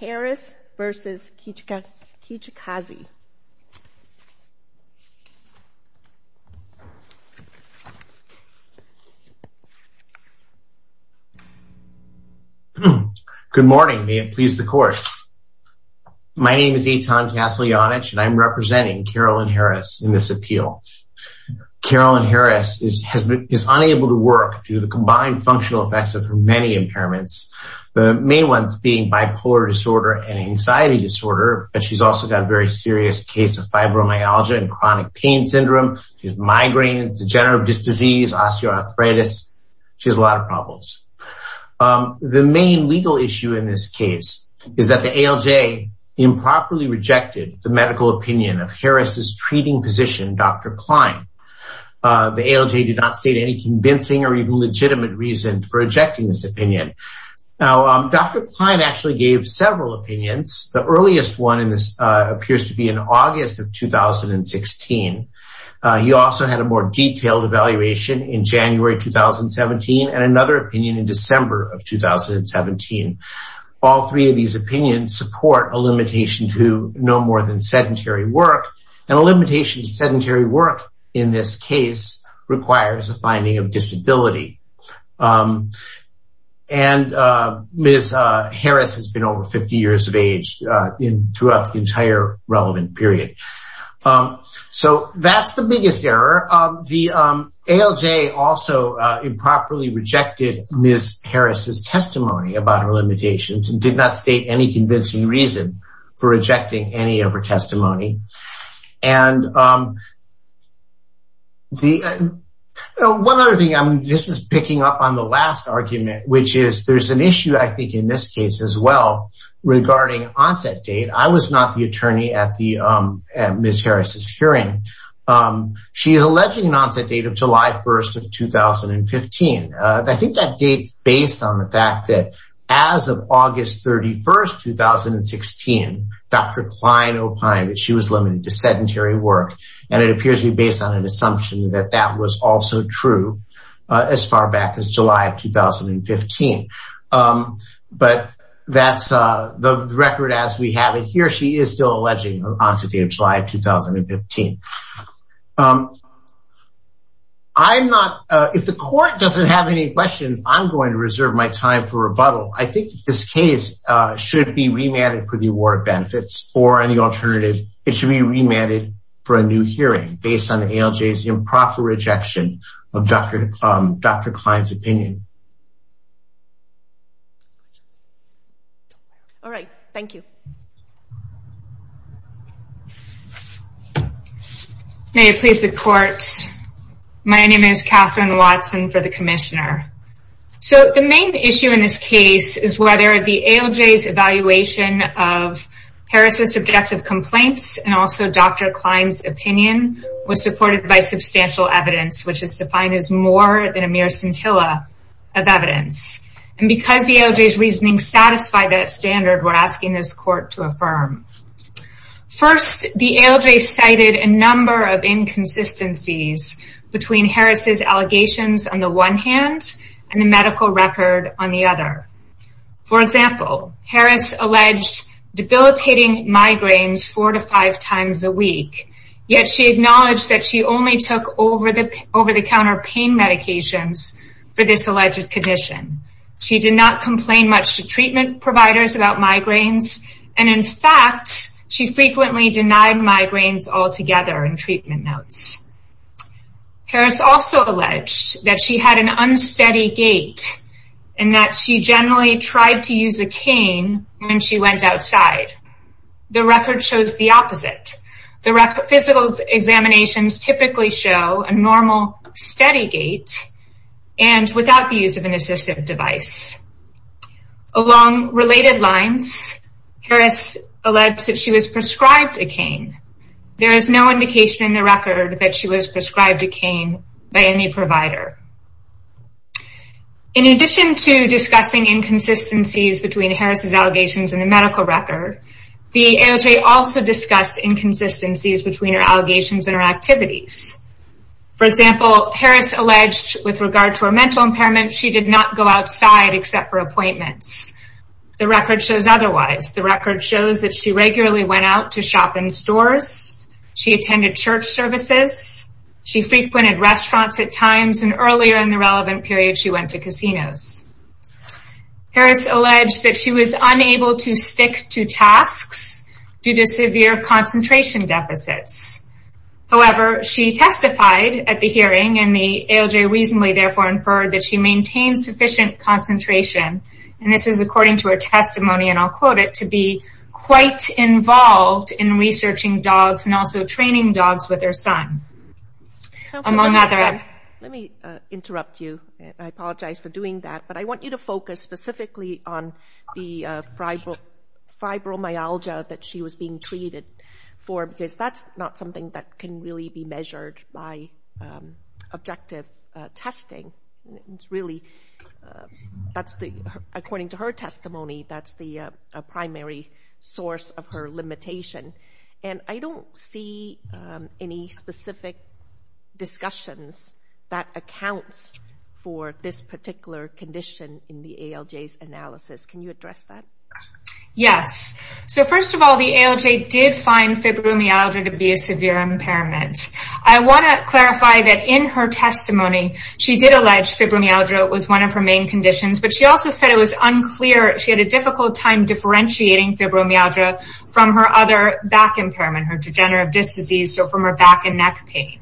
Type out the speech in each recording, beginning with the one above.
Harris versus Kijakazi. Good morning, may it please the court. My name is Eitan Kaslyanich and I'm representing Carolyn Harris in this appeal. Carolyn Harris is unable to work due to the combined functional effects of her many impairments, the main ones being bipolar disorder and anxiety disorder, but she's also got a very serious case of fibromyalgia and chronic pain syndrome, she has migraines, degenerative disease, osteoarthritis, she has a lot of problems. The main legal issue in this case is that the ALJ improperly rejected the medical opinion of Harris's treating physician, Dr. Klein. The ALJ did not state any convincing or even legitimate reason for rejecting this opinion. Now, Dr. Klein actually gave several opinions, the earliest one in this appears to be in August of 2016. He also had a more detailed evaluation in January 2017 and another opinion in December of 2017. All three of these opinions support a limitation to no more than sedentary work and a limitation to sedentary work in this case requires a finding of disability. And Ms. Harris has been over 50 years of age throughout the entire relevant period. So that's the biggest error. The ALJ also improperly rejected Ms. Harris's testimony about her limitations and did not state any convincing reason for rejecting any of her opinions. One other thing, this is picking up on the last argument, which is there's an issue I think in this case as well regarding onset date. I was not the attorney at Ms. Harris's hearing. She is alleging an onset date of July 1st of 2015. I think that date's based on the fact that as of And it appears to be based on an assumption that that was also true as far back as July of 2015. But that's the record as we have it here. She is still alleging an onset date of July of 2015. I'm not, if the court doesn't have any questions, I'm going to reserve my time for rebuttal. I think this case should be remanded for the award of benefits or any alternative. It should be remanded for a new hearing based on the ALJ's improper rejection of Dr. Klein's opinion. All right, thank you. May it please the courts, my name is Katherine Watson for the Commissioner. So the main issue in this case is whether the ALJ's evaluation of Harris's subjective complaints and also Dr. Klein's opinion was supported by substantial evidence, which is defined as more than a mere scintilla of evidence. And because the ALJ's reasoning satisfied that standard, we're asking this court to affirm. First, the ALJ cited a number of inconsistencies between Harris's allegations on the one hand and the medical record on the other. For example, Harris alleged debilitating migraines four to five times a week, yet she acknowledged that she only took over-the-counter pain medications for this alleged condition. She did not complain much to treatment providers about migraines, and in fact, she frequently denied migraines altogether in treatment notes. Harris also alleged that she had an unsteady gait and that she generally tried to use a cane when she went outside. The record shows the opposite. The physical examinations typically show a normal steady gait and without the use of an assistive device. Along related lines, Harris alleged that she was prescribed a cane. There is no indication in the record that she was prescribed a cane by any provider. In addition to discussing inconsistencies between Harris's allegations and the medical record, the ALJ also discussed inconsistencies between her allegations and her activities. For example, Harris alleged with appointments. The record shows otherwise. The record shows that she regularly went out to shop in stores. She attended church services. She frequented restaurants at times, and earlier in the relevant period, she went to casinos. Harris alleged that she was unable to stick to tasks due to severe concentration deficits. However, she testified at the hearing, and the ALJ reasonably therefore inferred that she maintained sufficient concentration, and this is according to her testimony, and I'll quote it, to be quite involved in researching dogs and also training dogs with her son. Let me interrupt you. I apologize for doing that, but I want you to focus specifically on the fibromyalgia that she was being treated for because that's not something that can really be It's really, that's the, according to her testimony, that's the primary source of her limitation, and I don't see any specific discussions that accounts for this particular condition in the ALJ's analysis. Can you address that? Yes, so first of all, the ALJ did find fibromyalgia was one of her main conditions, but she also said it was unclear. She had a difficult time differentiating fibromyalgia from her other back impairment, her degenerative disc disease, so from her back and neck pain.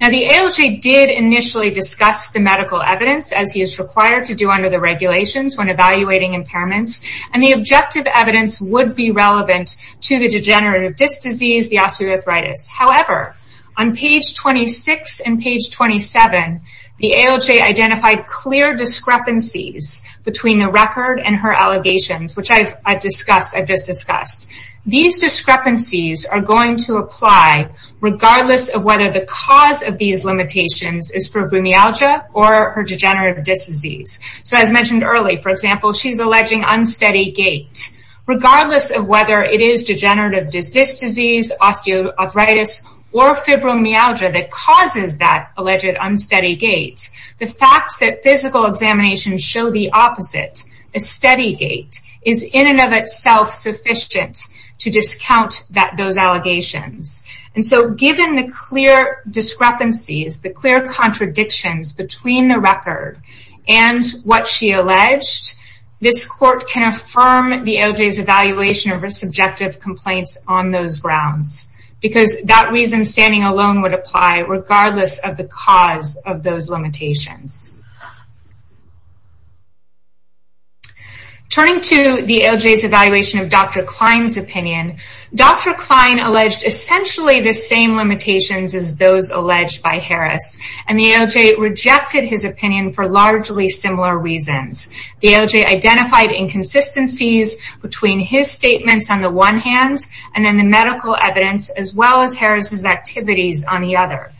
Now, the ALJ did initially discuss the medical evidence, as he is required to do under the regulations when evaluating impairments, and the objective evidence would be relevant to the degenerative disc disease, the osteoarthritis. However, on page 26 and page 27, the ALJ identified clear discrepancies between the record and her allegations, which I've discussed, I've just discussed. These discrepancies are going to apply regardless of whether the cause of these limitations is fibromyalgia or her degenerative disc disease. So, as mentioned early, for example, she's alleging unsteady gait, regardless of it is degenerative disc disease, osteoarthritis, or fibromyalgia that causes that alleged unsteady gait, the fact that physical examinations show the opposite, a steady gait, is in and of itself sufficient to discount those allegations. And so, given the clear discrepancies, the clear contradictions between the record and what she alleged, this court can affirm the ALJ's evaluation of her subjective complaints on those grounds, because that reason standing alone would apply regardless of the cause of those limitations. Turning to the ALJ's evaluation of Dr. Klein's opinion, Dr. Klein alleged essentially the same limitations as those alleged by Harris, and the ALJ rejected his opinion for largely similar reasons. The ALJ identified inconsistencies between his statements on the one hand, and then the medical evidence, as well as Harris's activities on the other.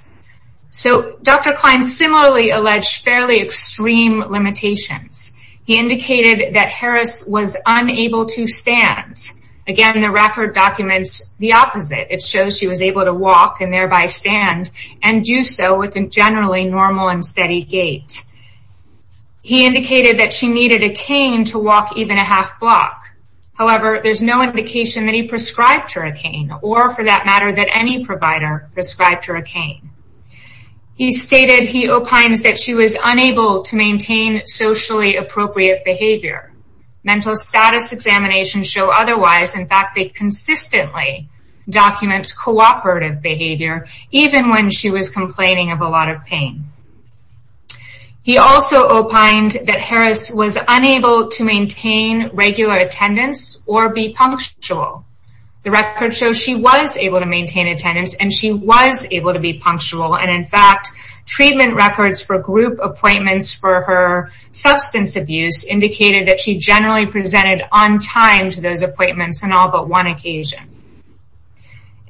So, Dr. Klein similarly alleged fairly extreme limitations. He indicated that Harris was unable to stand. Again, the record documents the opposite. It shows she was able to walk and thereby stand, and do so with a generally normal and steady gait. He indicated that she could walk even a half block. However, there's no indication that he prescribed her a cane, or for that matter, that any provider prescribed her a cane. He stated he opines that she was unable to maintain socially appropriate behavior. Mental status examinations show otherwise. In fact, they consistently document cooperative behavior, even when she was complaining of a lot of pain. He also opined that Harris was unable to maintain regular attendance or be punctual. The record shows she was able to maintain attendance, and she was able to be punctual. In fact, treatment records for group appointments for her substance abuse indicated that she generally presented on time to those appointments on all but one occasion.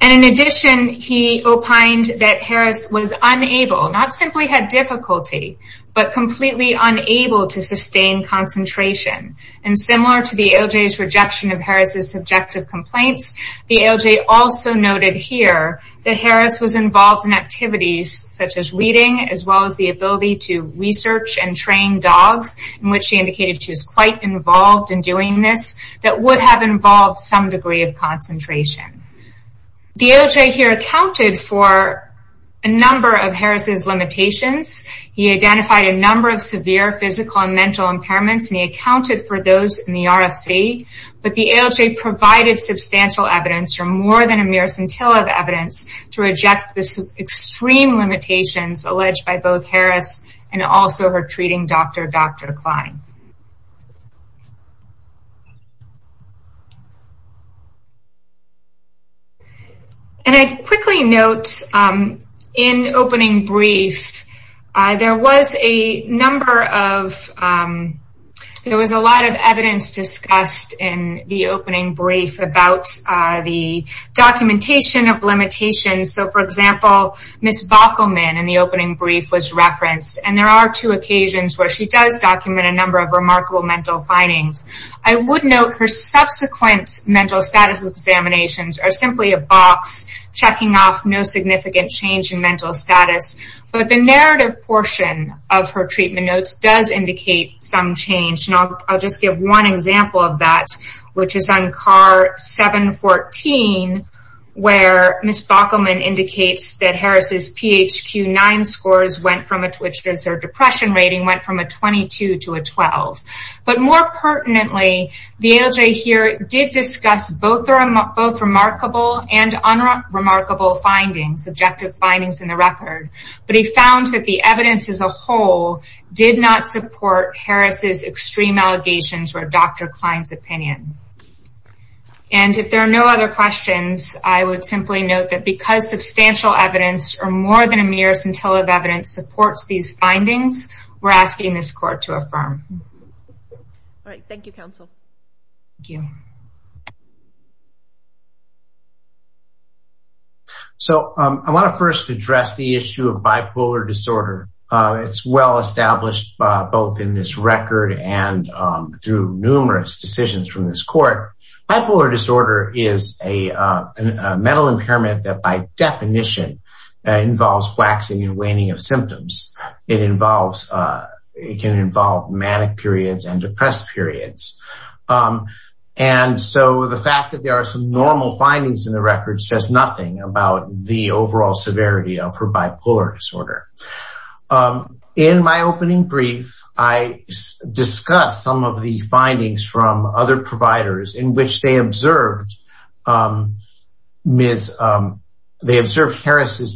In addition, he opined that Harris was unable, not simply had difficulty, but completely unable to sustain concentration. And similar to the ALJ's rejection of Harris's subjective complaints, the ALJ also noted here that Harris was involved in activities such as reading, as well as the ability to research and train dogs, in which she indicated she was quite involved in doing this, that would have involved some degree of concentration. The ALJ here accounted for a number of Harris's limitations. He identified a number of severe physical and mental impairments, and he accounted for those in the RFC, but the ALJ provided substantial evidence, or more than a mere scintilla of evidence, to reject the extreme limitations alleged by both Harris and also her treating doctor, Dr. Klein. And I quickly note, in opening brief, there was a number of, there was a lot of evidence discussed in the opening brief about the documentation of limitations. So, for example, Ms. Backelman in the opening brief was referenced, and there are two occasions where she does document a number of remarkable mental findings. I would note her subsequent mental status examinations are simply a box, checking off no significant change in mental status, but the narrative portion of her treatment notes does indicate some change, and I'll just give one example of that, which is on CAR 714, where Ms. Backelman indicates that Harris's PHQ-9 scores went from, which is her depression rating, went from a 22 to a 12. But more pertinently, the ALJ here did discuss both remarkable and unremarkable findings, subjective findings in the record, but he found that the evidence as a whole did not support Harris's extreme allegations or Dr. Klein's opinion. And if there are no other questions, I would simply note that because substantial evidence, or more than a mere scintilla of evidence, supports these All right. Thank you, counsel. Thank you. So, I want to first address the issue of bipolar disorder. It's well established both in this record and through numerous decisions from this court. Bipolar disorder is a mental impairment that by definition involves waxing and waning of symptoms. It involves, it can involve manic periods and depressed periods. And so, the fact that there are some normal findings in the record says nothing about the overall severity of her bipolar disorder. In my opening brief, I discussed some of the findings from other providers in which they observed Harris's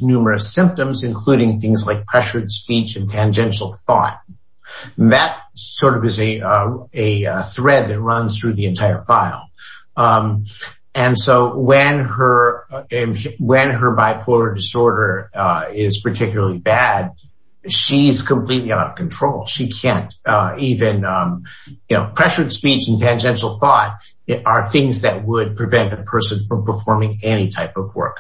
numerous symptoms, including things like pressured speech and tangential thought. That sort of is a thread that runs through the entire file. And so, when her bipolar disorder is particularly bad, she's completely out of control. She can't even, you know, pressured speech and tangential thought are things that would prevent a person from performing any type of work.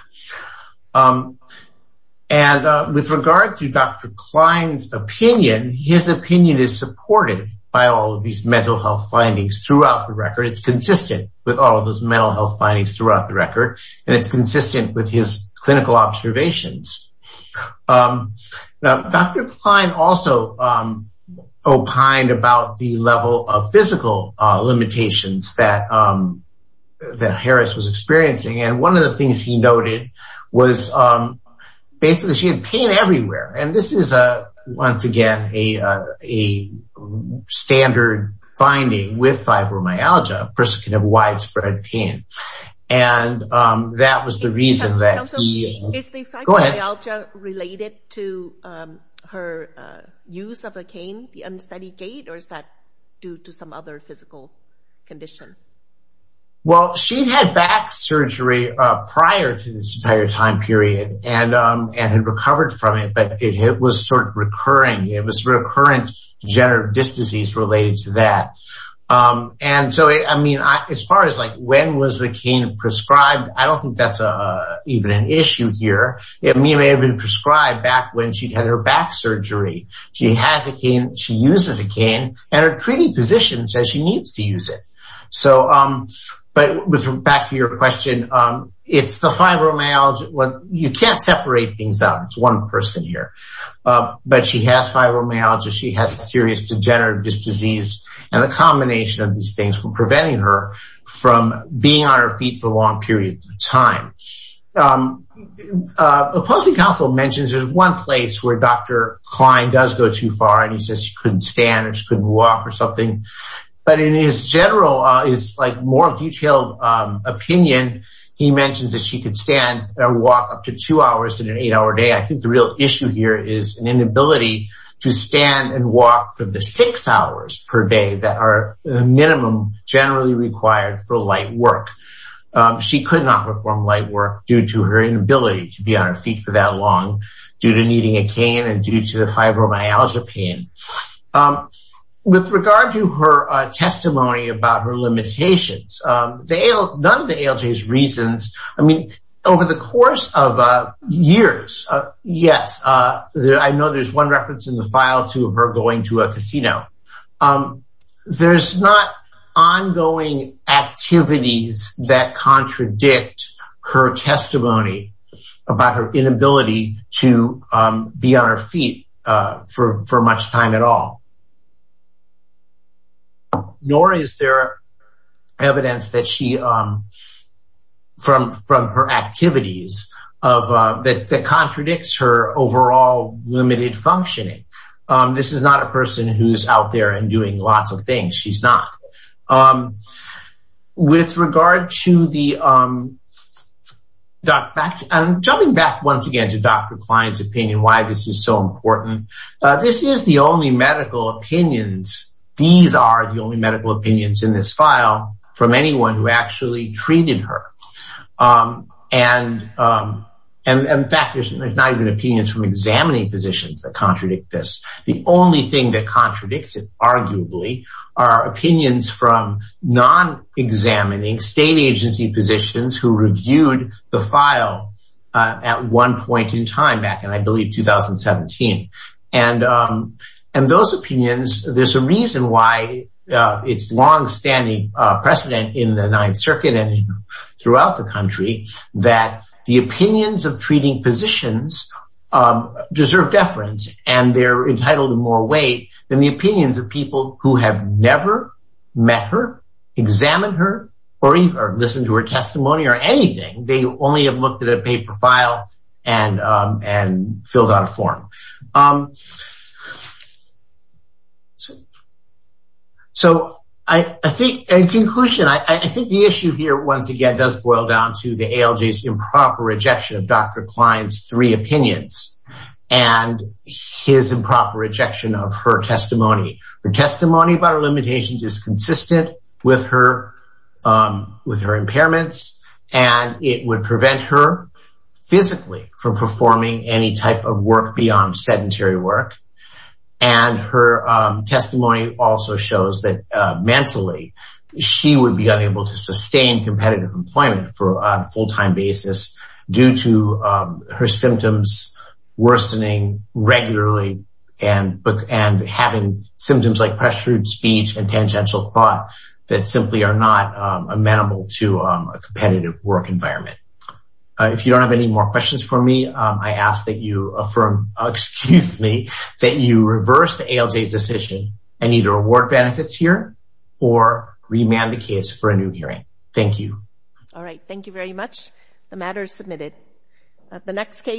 And with regard to Dr. Klein's opinion, his opinion is supported by all of these mental health findings throughout the record. It's consistent with all of those mental health findings throughout the record. And it's consistent with his clinical observations. Now, Dr. Klein also opined about the level of physical limitations that Harris was experiencing. And one of the things he noted was, basically, she had pain everywhere. And this is, once again, a standard finding with fibromyalgia, a person can have widespread pain. And that was the reason that is related to her use of a cane, the unsteady gait, or is that due to some other physical condition? Well, she had back surgery prior to this entire time period and had recovered from it. But it was sort of recurring. It was recurrent degenerative disc disease related to that. And so, I mean, as far as like, when was the cane prescribed? I don't think that's even an issue here. It may have been prescribed back when she had her back surgery. She has a cane, she uses a cane, and her treating physician says she needs to use it. So, but back to your question, it's the fibromyalgia. You can't separate things out. It's one person here. But she has fibromyalgia, she has a serious degenerative disc disease. And the combination of these things were preventing her from being on her feet for long periods of time. The policy council mentions there's one place where Dr. Klein does go too far. And he says she couldn't stand or she couldn't walk or something. But in his general, his like more detailed opinion, he mentions that she could stand or walk up to two hours in an eight hour day. I think the real issue here is an inability to stand and walk for the six hours per day that are the minimum generally required for light work. She could not perform light work due to her inability to be on her feet for that long due to needing a cane and due to the fibromyalgia pain. With regard to her testimony about her limitations, none of the ALJ's reasons, I mean, over the course of years, yes, I know there's one reference in the file to her going to a casino. There's not ongoing activities that contradict her testimony about her inability to be on her feet for much time at all. Nor is there evidence that she from her activities that contradicts her overall limited functioning. This is not a person who's out there and doing lots of things. She's not. With regard to the doc, back and jumping back once again to Dr. Klein's opinion, why this is so important. This is the only medical opinions. These are the only medical opinions in this file from anyone who actually treated her. And, in fact, there's not even opinions from examining physicians that contradict this. The only thing that contradicts it, arguably, are opinions from non-examining state agency physicians who reviewed the file at one point in time back in, I believe, 2017. And those opinions, there's a reason why it's longstanding precedent in the Ninth Circuit throughout the country, that the opinions of treating physicians deserve deference, and they're entitled to more weight than the opinions of people who have never met her, examined her, or even listened to her testimony or anything. They only have looked at a paper file and filled out a form. So, in conclusion, I think the issue here, once again, does boil down to the ALJ's improper rejection of Dr. Klein's three opinions and his improper rejection of her testimony. Her testimony about her limitations is consistent with her impairments, and it would prevent her physically from performing any type of work beyond sedentary work. And her testimony also shows that mentally, she would be unable to sustain competitive employment for a full-time basis due to her symptoms worsening regularly and having symptoms like pressured speech and tangential thought that simply are not amenable to a competitive work environment. If you don't have any more questions for me, I ask that you affirm, excuse me, that you reverse the ALJ's decision and either award benefits here or remand the case for a new hearing. Thank you. All right. Thank you very much. The matter is submitted.